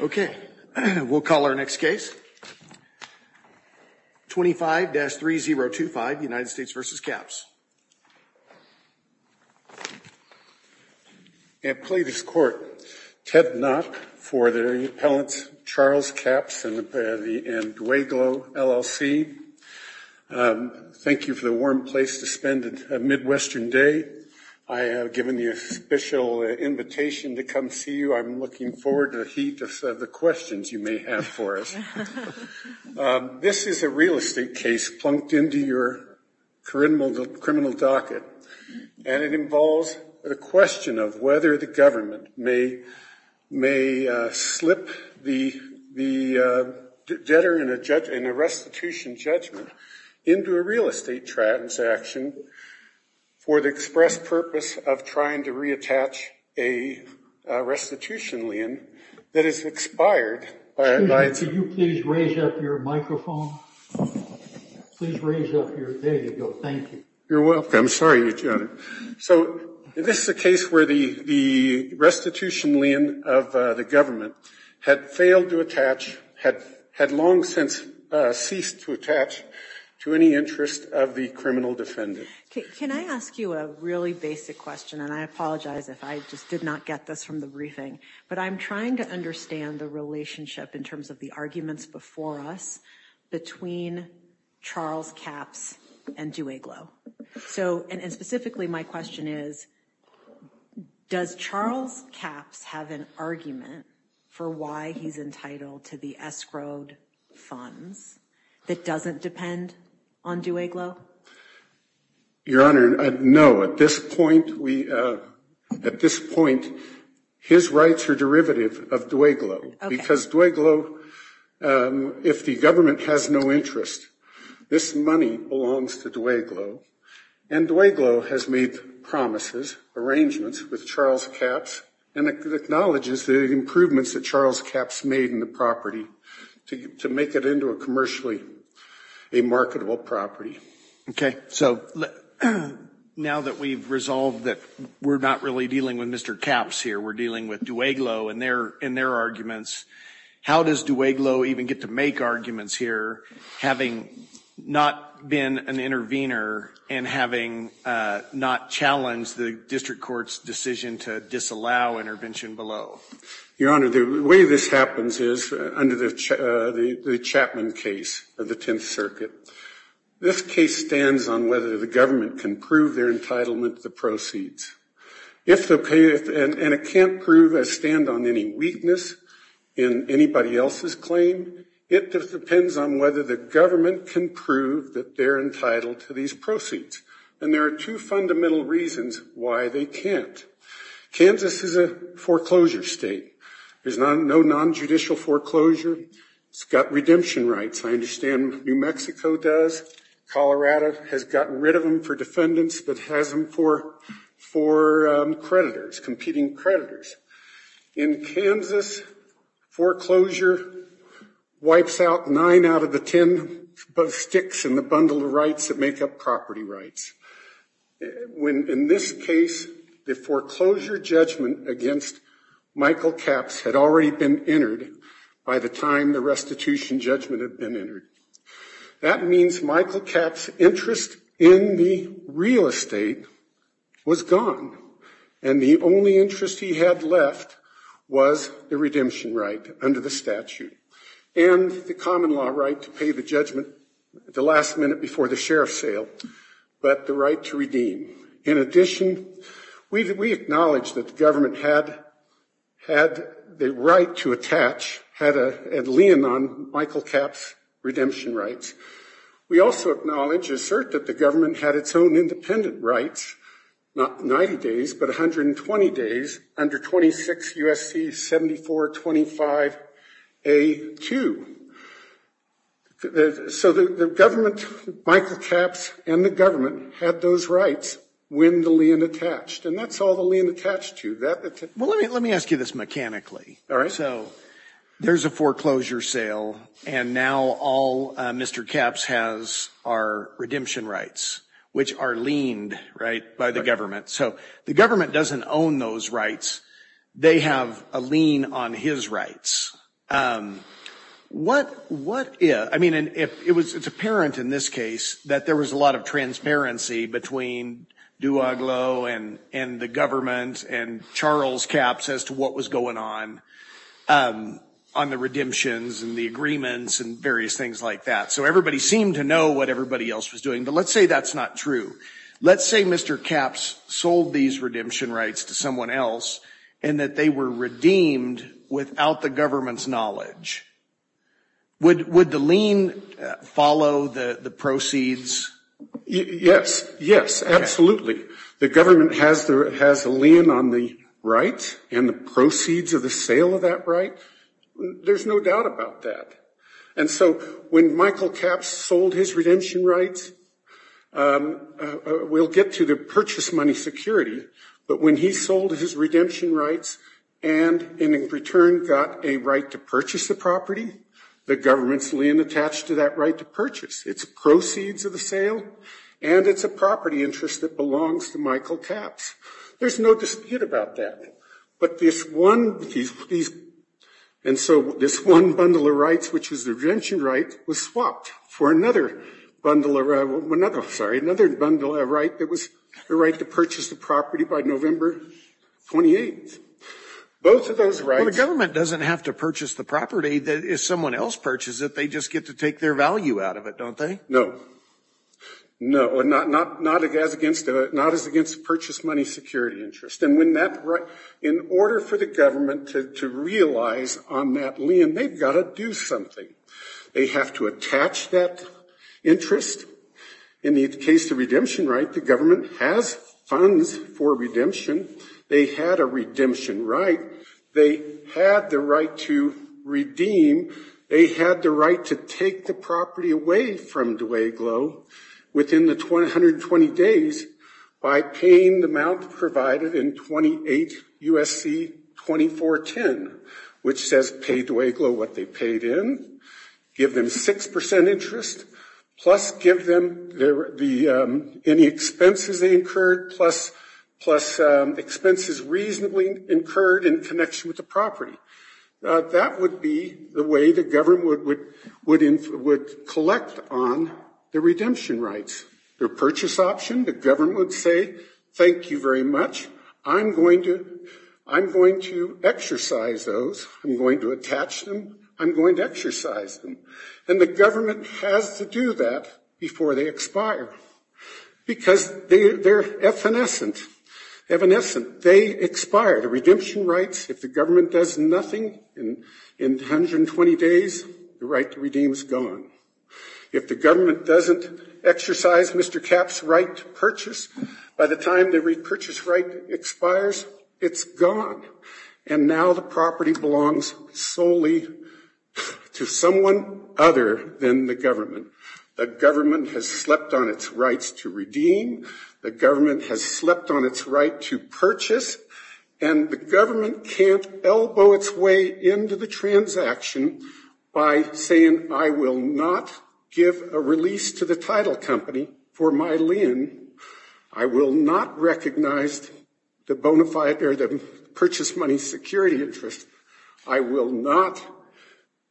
Okay, we'll call our next case. 25-3025, United States v. Capps. I plead this court, Ted Knott for the appellants Charles Capps and Dweglow, LLC. Thank you for the warm place to spend a Midwestern day. I have given you a special invitation to come see you. I'm looking forward to the heat of the questions you may have for us. This is a real estate case plunked into your criminal docket, and it involves the question of whether the government may slip the debtor in a restitution judgment into a real estate transaction for the express purpose of trying to reattach a restitution lien that has expired. Excuse me, could you please raise up your microphone? Please raise up your – there you go. Thank you. You're welcome. I'm sorry, Your Honor. So this is a case where the restitution lien of the government had failed to attach, had long since ceased to attach to any interest of the criminal defendant. Can I ask you a really basic question, and I apologize if I just did not get this from the briefing, but I'm trying to understand the relationship in terms of the arguments before us between Charles Capps and Dweglow. So, and specifically my question is, does Charles Capps have an argument for why he's entitled to the escrowed funds that doesn't depend on Dweglow? Your Honor, no. At this point, we – at this point, his rights are derivative of Dweglow. Because Dweglow, if the government has no interest, this money belongs to Dweglow, and Dweglow has made promises, arrangements with Charles Capps, and acknowledges the improvements that Charles Capps made in the property to make it into a commercially a marketable property. Okay, so now that we've resolved that we're not really dealing with Mr. Capps here, we're dealing with Dweglow and their arguments, how does Dweglow even get to make arguments here having not been an intervener and having not challenged the district court's decision to disallow intervention below? Your Honor, the way this happens is under the Chapman case of the Tenth Circuit. This case stands on whether the government can prove their entitlement to the proceeds. If the – and it can't prove a stand on any weakness in anybody else's claim, it just depends on whether the government can prove that they're entitled to these proceeds. And there are two fundamental reasons why they can't. Kansas is a foreclosure state. There's no non-judicial foreclosure. It's got redemption rights. I understand New Mexico does. Colorado has gotten rid of them for defendants, but has them for creditors, competing creditors. In Kansas, foreclosure wipes out nine out of the ten sticks in the bundle of rights that make up property rights. In this case, the foreclosure judgment against Michael Capps had already been entered by the time the restitution judgment had been entered. That means Michael Capps' interest in the real estate was gone. And the only interest he had left was the redemption right under the statute and the common law right to pay the judgment at the last minute before the sheriff's sale, but the right to redeem. In addition, we acknowledge that the government had the right to attach, had a lien on Michael Capps' redemption rights. We also acknowledge, assert, that the government had its own independent rights, not 90 days, but 120 days under 26 U.S.C. 7425A2. So the government, Michael Capps and the government, had those rights when the lien attached. And that's all the lien attached to. Well, let me ask you this mechanically. All right. So there's a foreclosure sale, and now all Mr. Capps has are redemption rights, which are liened, right, by the government. So the government doesn't own those rights. They have a lien on his rights. What, I mean, it's apparent in this case that there was a lot of transparency between Duaglo and the government and Charles Capps as to what was going on, on the redemptions and the agreements and various things like that. So everybody seemed to know what everybody else was doing. But let's say that's not true. Let's say Mr. Capps sold these redemption rights to someone else and that they were redeemed without the government's knowledge. Would the lien follow the proceeds? Yes. Yes, absolutely. The government has a lien on the rights and the proceeds of the sale of that right. There's no doubt about that. And so when Michael Capps sold his redemption rights, we'll get to the purchase money security. But when he sold his redemption rights and in return got a right to purchase the property, the government's lien attached to that right to purchase. It's proceeds of the sale and it's a property interest that belongs to Michael Capps. There's no dispute about that. But this one, these, and so this one bundle of rights, which is the redemption right, was swapped for another bundle of, sorry, another bundle of right that was the right to purchase the property by November 28th. Both of those rights. Well, the government doesn't have to purchase the property. If someone else purchases it, they just get to take their value out of it. Don't they? No, not as against the purchase money security interest. And when that right, in order for the government to realize on that lien, they've got to do something. They have to attach that interest. In the case of redemption right, the government has funds for redemption. They had a redemption right. They had the right to redeem. They had the right to take the property away from Dwayglo within the 120 days by paying the amount provided in 28 U.S.C. 2410, which says pay Dwayglo what they paid in, give them 6% interest, plus give them any expenses they incurred, plus expenses reasonably incurred in connection with the property. That would be the way the government would collect on the redemption rights. The purchase option, the government would say, thank you very much. I'm going to exercise those. I'm going to attach them. I'm going to exercise them. And the government has to do that before they expire. Because they're evanescent. Evanescent. They expire. The redemption rights, if the government does nothing in 120 days, the right to redeem is gone. If the government doesn't exercise Mr. Capp's right to purchase, by the time the repurchase right expires, it's gone. And now the property belongs solely to someone other than the government. The government has slept on its rights to redeem. The government has slept on its right to purchase. And the government can't elbow its way into the transaction by saying, I will not give a release to the title company for my lien. I will not recognize the purchase money security interest. I will not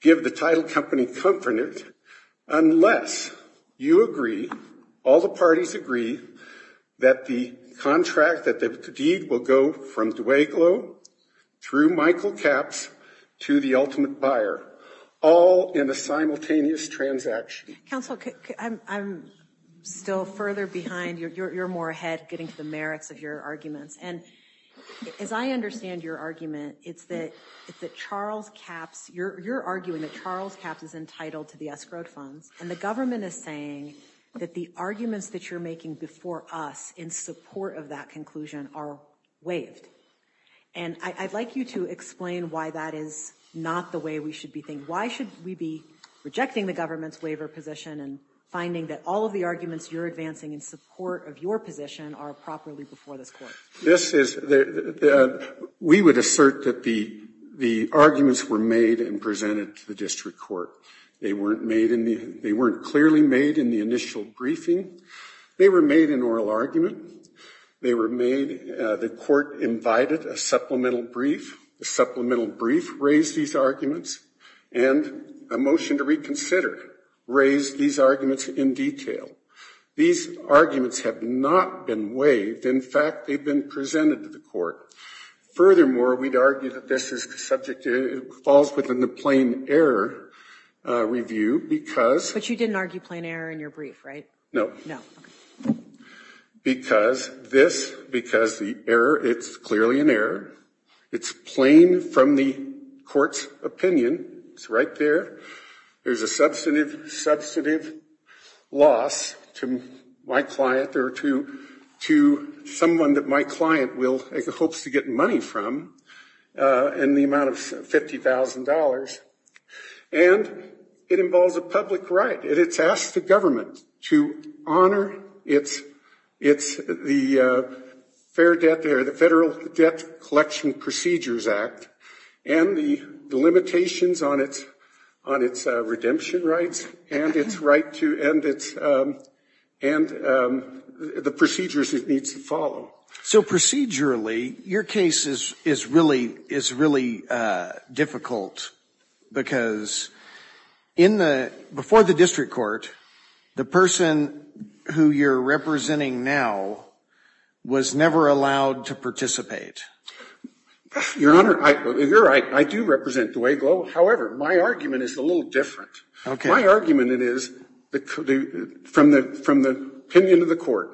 give the title company comfort in it, unless you agree, all the parties agree, that the contract, that the deed will go from Dweglow through Michael Capps to the ultimate buyer, all in a simultaneous transaction. Council, I'm still further behind. You're more ahead getting to the merits of your arguments. And as I understand your argument, it's that Charles Capps, you're arguing that Charles Capps is entitled to the escrowed funds. And the government is saying that the arguments that you're making before us in support of that conclusion are waived. And I'd like you to explain why that is not the way we should be thinking. Why should we be rejecting the government's waiver position and finding that all of the arguments you're advancing in support of your position are properly before this court? We would assert that the arguments were made and presented to the district court. They weren't clearly made in the initial briefing. They were made in oral argument. They were made, the court invited a supplemental brief. The supplemental brief raised these arguments. And a motion to reconsider raised these arguments in detail. These arguments have not been waived. In fact, they've been presented to the court. Furthermore, we'd argue that this is the subject, it falls within the plain error review because- But you didn't argue plain error in your brief, right? No. No, okay. Because this, because the error, it's clearly an error. It's plain from the court's opinion. It's right there. There's a substantive loss to my client or to someone that my client hopes to get money from in the amount of $50,000. And it involves a public right. And it's asked the government to honor its, the Federal Debt Collection Procedures Act. And the limitations on its redemption rights and its right to, and the procedures it needs to follow. So procedurally, your case is really difficult. Because in the, before the district court, the person who you're representing now was never allowed to participate. Your Honor, you're right. I do represent the way, however, my argument is a little different. Okay. My argument is, from the opinion of the court,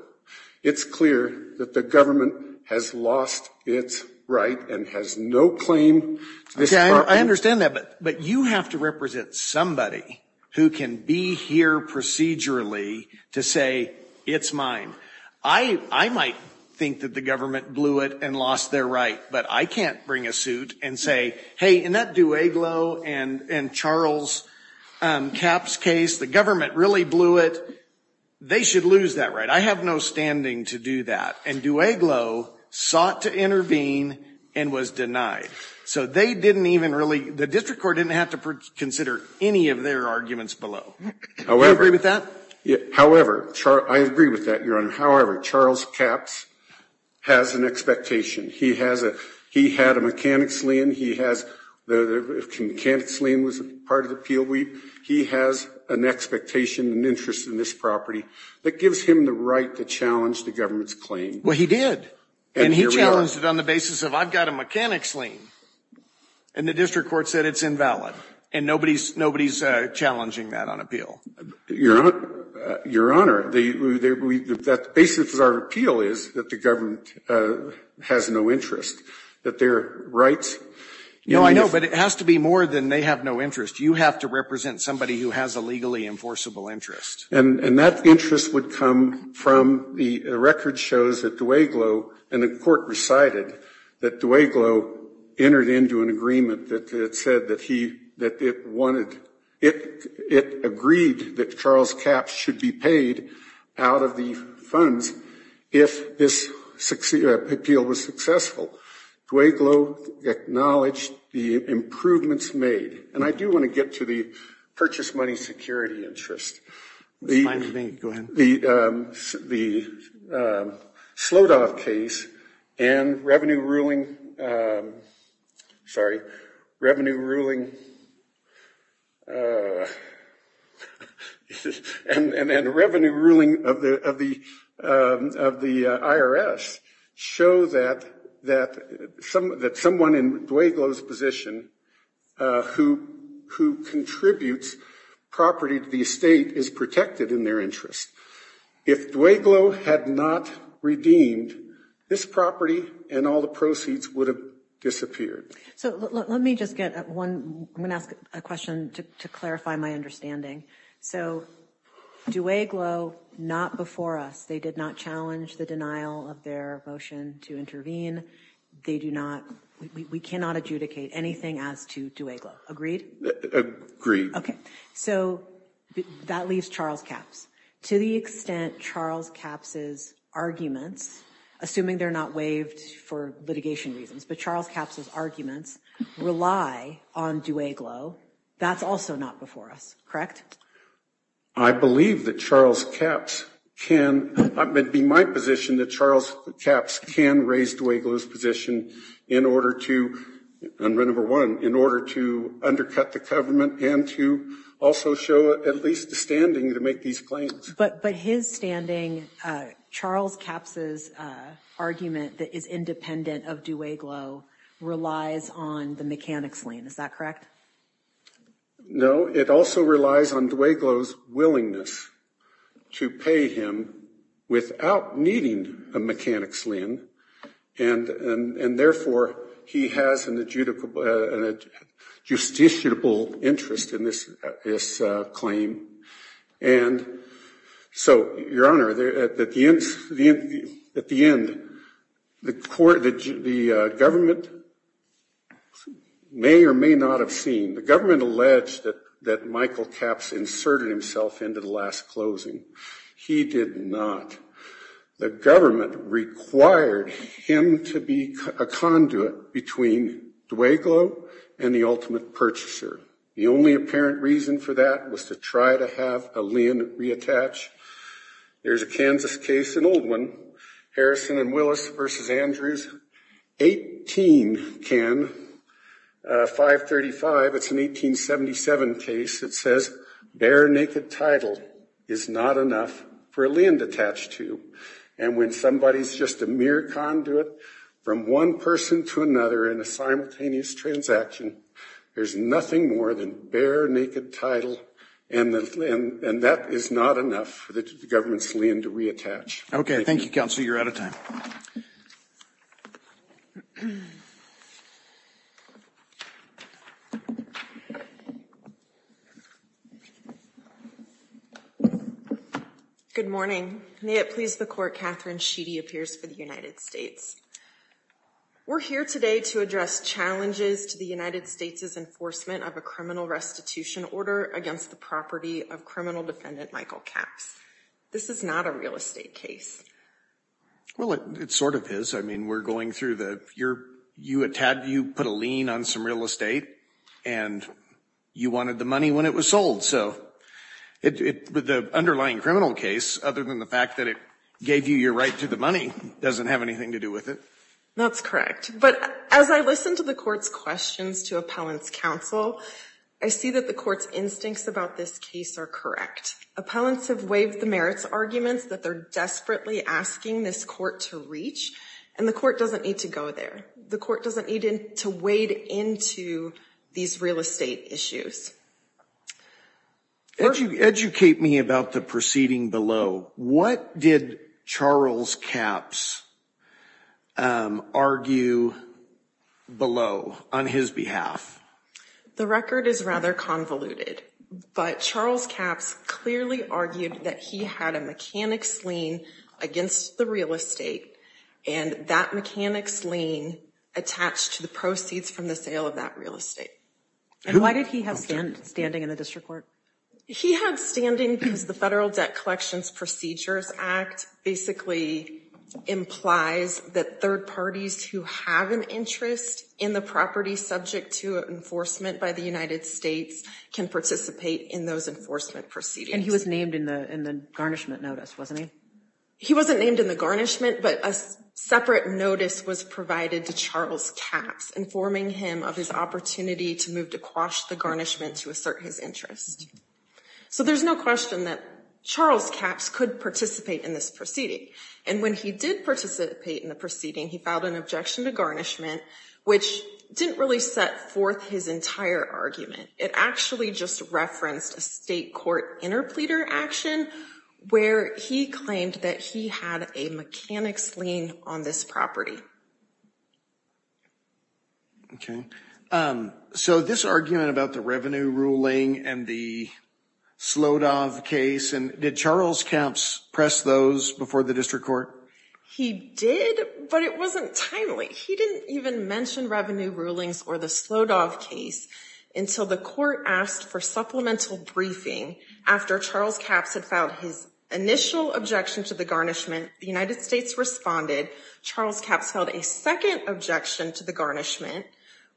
it's clear that the government has lost its right and has no claim. Okay, I understand that. But you have to represent somebody who can be here procedurally to say, it's mine. I might think that the government blew it and lost their right, but I can't bring a suit and say, hey, in that Dueglo and Charles Capps case, the government really blew it. They should lose that right. I have no standing to do that. And Dueglo sought to intervene and was denied. So they didn't even really, the district court didn't have to consider any of their arguments below. However- Do you agree with that? However, I agree with that, Your Honor. However, Charles Capps has an expectation. He has a, he had a mechanics lien. He has, the mechanics lien was part of the appeal. He has an expectation, an interest in this property that gives him the right to challenge the government's claim. Well, he did. And he challenged it on the basis of, I've got a mechanics lien. And the district court said it's invalid. And nobody's, nobody's challenging that on appeal. Your Honor, the basis of our appeal is that the government has no interest. That their rights- No, I know, but it has to be more than they have no interest. You have to represent somebody who has a legally enforceable interest. And that interest would come from the record shows that Dueglo, and the court recited that Dueglo entered into an agreement that said that he, that it wanted, it agreed that Charles Capps should be paid out of the funds if this appeal was successful. Dueglo acknowledged the improvements made. And I do want to get to the purchase money security interest. It's fine with me, go ahead. The, the Slodov case and revenue ruling, sorry, revenue ruling, and, and, and revenue ruling of the, of the, of the IRS show that, that some, that someone in Dueglo's position who, who contributes property to the estate is protected in their interest. If Dueglo had not redeemed this property and all the proceeds would have disappeared. So let me just get one, I'm going to ask a question to clarify my understanding. So Dueglo, not before us, they did not challenge the denial of their motion to intervene. They do not, we cannot adjudicate anything as to Dueglo, agreed? Agreed. Okay. So that leaves Charles Capps. To the extent Charles Capps' arguments, assuming they're not waived for litigation reasons, but Charles Capps' arguments rely on Dueglo, that's also not before us, correct? I believe that Charles Capps can, it'd be my position that Charles Capps can raise Dueglo's position in order to, number one, in order to undercut the government and to also show at least the standing to make these claims. But his standing, Charles Capps' argument that is independent of Dueglo relies on the mechanics lien. Is that correct? No, it also relies on Dueglo's willingness to pay him without needing a mechanics lien and therefore he has an adjudicable, an adjustable interest in this claim. And so, Your Honor, at the end, the court, the government may or may not have seen, the government alleged that Michael Capps inserted himself into the last closing. He did not. The government required him to be a conduit between Dueglo and the ultimate purchaser. The only apparent reason for that was to try to have a lien reattach. There's a Kansas case, an old one, Harrison and Willis v. Andrews, 18, 535, it's an 1877 case. It says, bare naked title is not enough for a lien to attach to. And when somebody's just a mere conduit from one person to another in a simultaneous transaction, there's nothing more than bare naked title and that is not enough for the government's lien to reattach. Okay, thank you, Counselor. You're out of time. Good morning. May it please the Court, Catherine Sheedy appears for the United States. We're here today to address challenges to the United States' enforcement of a criminal restitution order against the property of criminal defendant Michael Capps. This is not a real estate case. Well, it sort of is. I mean, we're going through the, you put a lien on some real estate and you wanted the money when it was sold. So the underlying criminal case, other than the fact that it gave you your right to the money, doesn't have anything to do with it. That's correct. But as I listen to the Court's questions to Appellant's Counsel, I see that the Court's instincts about this case are correct. Appellants have waived the merits arguments that they're desperately asking this Court to reach and the Court doesn't need to go there. The Court doesn't need to wade into these real estate issues. Educate me about the proceeding below. What did Charles Capps argue below on his behalf? The record is rather convoluted. But Charles Capps clearly argued that he had a mechanic's lien against the real estate and that mechanic's lien attached to the proceeds from the sale of that real estate. And why did he have standing in the District Court? He had standing because the Federal Debt Collections Procedures Act basically implies that third parties who have an interest in the property subject to enforcement by the United States can participate in those enforcement proceedings. And he was named in the garnishment notice, wasn't he? He wasn't named in the garnishment, but a separate notice was provided to Charles Capps informing him of his opportunity to move to quash the garnishment to assert his interest. So there's no question that Charles Capps could participate in this proceeding. And when he did participate in the proceeding, he filed an objection to garnishment which didn't really set forth his entire argument. It actually just referenced a state court interpleader action where he claimed that he had a mechanic's lien on this property. Okay. So this argument about the revenue ruling and the Slodov case, did Charles Capps press those before the District Court? He did, but it wasn't timely. He didn't even mention revenue rulings or the Slodov case until the court asked for supplemental briefing. After Charles Capps had filed his initial objection to the garnishment, the United States responded. Charles Capps held a second objection to the garnishment,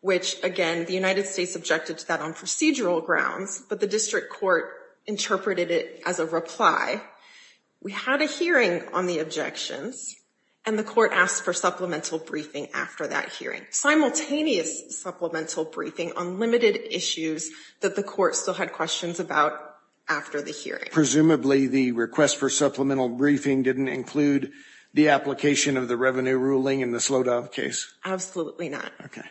which again, the United States objected to that on procedural grounds, but the District Court interpreted it as a reply. We had a hearing on the objections, and the court asked for supplemental briefing after that hearing. Simultaneous supplemental briefing on limited issues that the court still had questions about after the hearing. Presumably the request for supplemental briefing didn't include the application of the revenue ruling in the Slodov case? Absolutely not. Okay.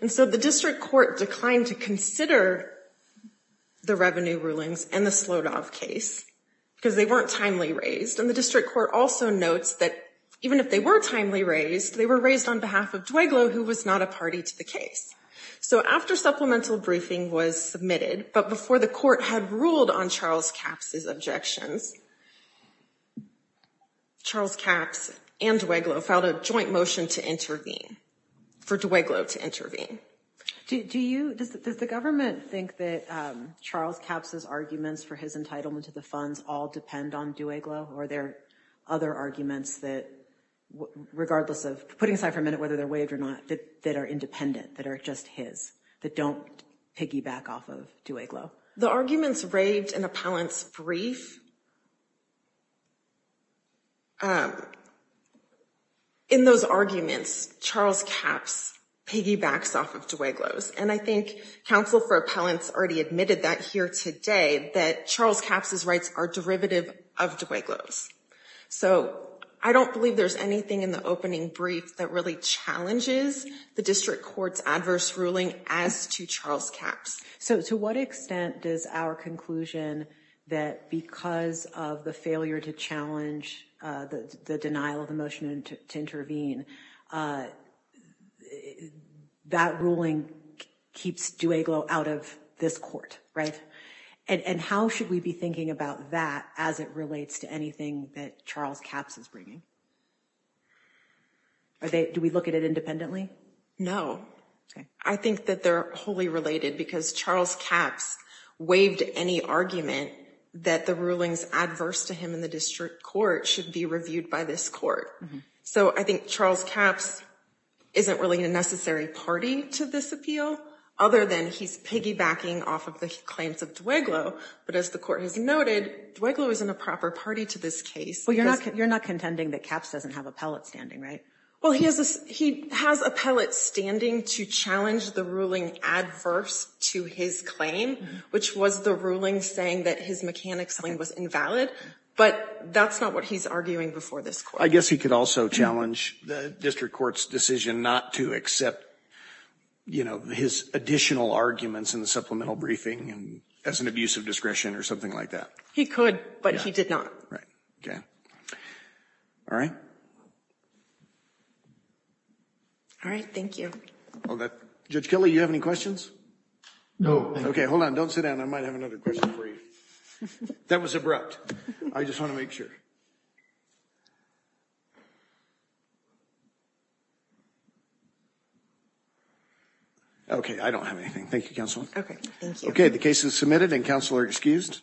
And so the District Court declined to consider the revenue rulings and the Slodov case because they weren't timely raised, and the District Court also notes that even if they were timely raised, they were raised on behalf of Dweglow, who was not a party to the case. So after supplemental briefing was submitted, but before the court had ruled on Charles Capps' objections, Charles Capps and Dweglow filed a joint motion to intervene, for Dweglow to intervene. Do you, does the government think that Charles Capps' arguments for his entitlement to the funds all depend on Dweglow, or are there other arguments that, regardless of, putting aside for a minute whether they're waived or not, that are independent, that are just his, that don't piggyback off of Dweglow? The arguments waived in Appellant's brief, in those arguments, Charles Capps piggybacks off of Dweglow's, and I think Counsel for Appellants already admitted that here today, that Charles Capps' rights are derivative of Dweglow's. So I don't believe there's anything in the opening brief that really challenges the district court's adverse ruling as to Charles Capps. So to what extent does our conclusion that because of the failure to challenge the denial of the motion to intervene, that ruling keeps Dweglow out of this court, right? And how should we be thinking about that as it relates to anything that Charles Capps is bringing? Do we look at it independently? No. I think that they're wholly related because Charles Capps waived any argument that the rulings adverse to him in the district court should be reviewed by this court. So I think Charles Capps isn't really a necessary party to this appeal, other than he's piggybacking off of the claims of Dweglow. But as the court has noted, Dweglow isn't a proper party to this case. Well, you're not contending that Capps doesn't have appellate standing, right? Well, he has appellate standing to challenge the ruling adverse to his claim, which was the ruling saying that his mechanic's claim was invalid, but that's not what he's arguing before this court. I guess he could also challenge the district court's decision not to accept, you know, his additional arguments in the supplemental briefing as an abuse of discretion or something like that. He could, but he did not. Right. Okay. All right. All right. Thank you. Judge Kelly, you have any questions? No. Okay. Hold on. Don't sit down. I might have another question for you. That was abrupt. I just want to make sure. Okay. I don't have anything. Thank you, Counsel. Okay. Thank you. Okay. The case is submitted and counsel are excused.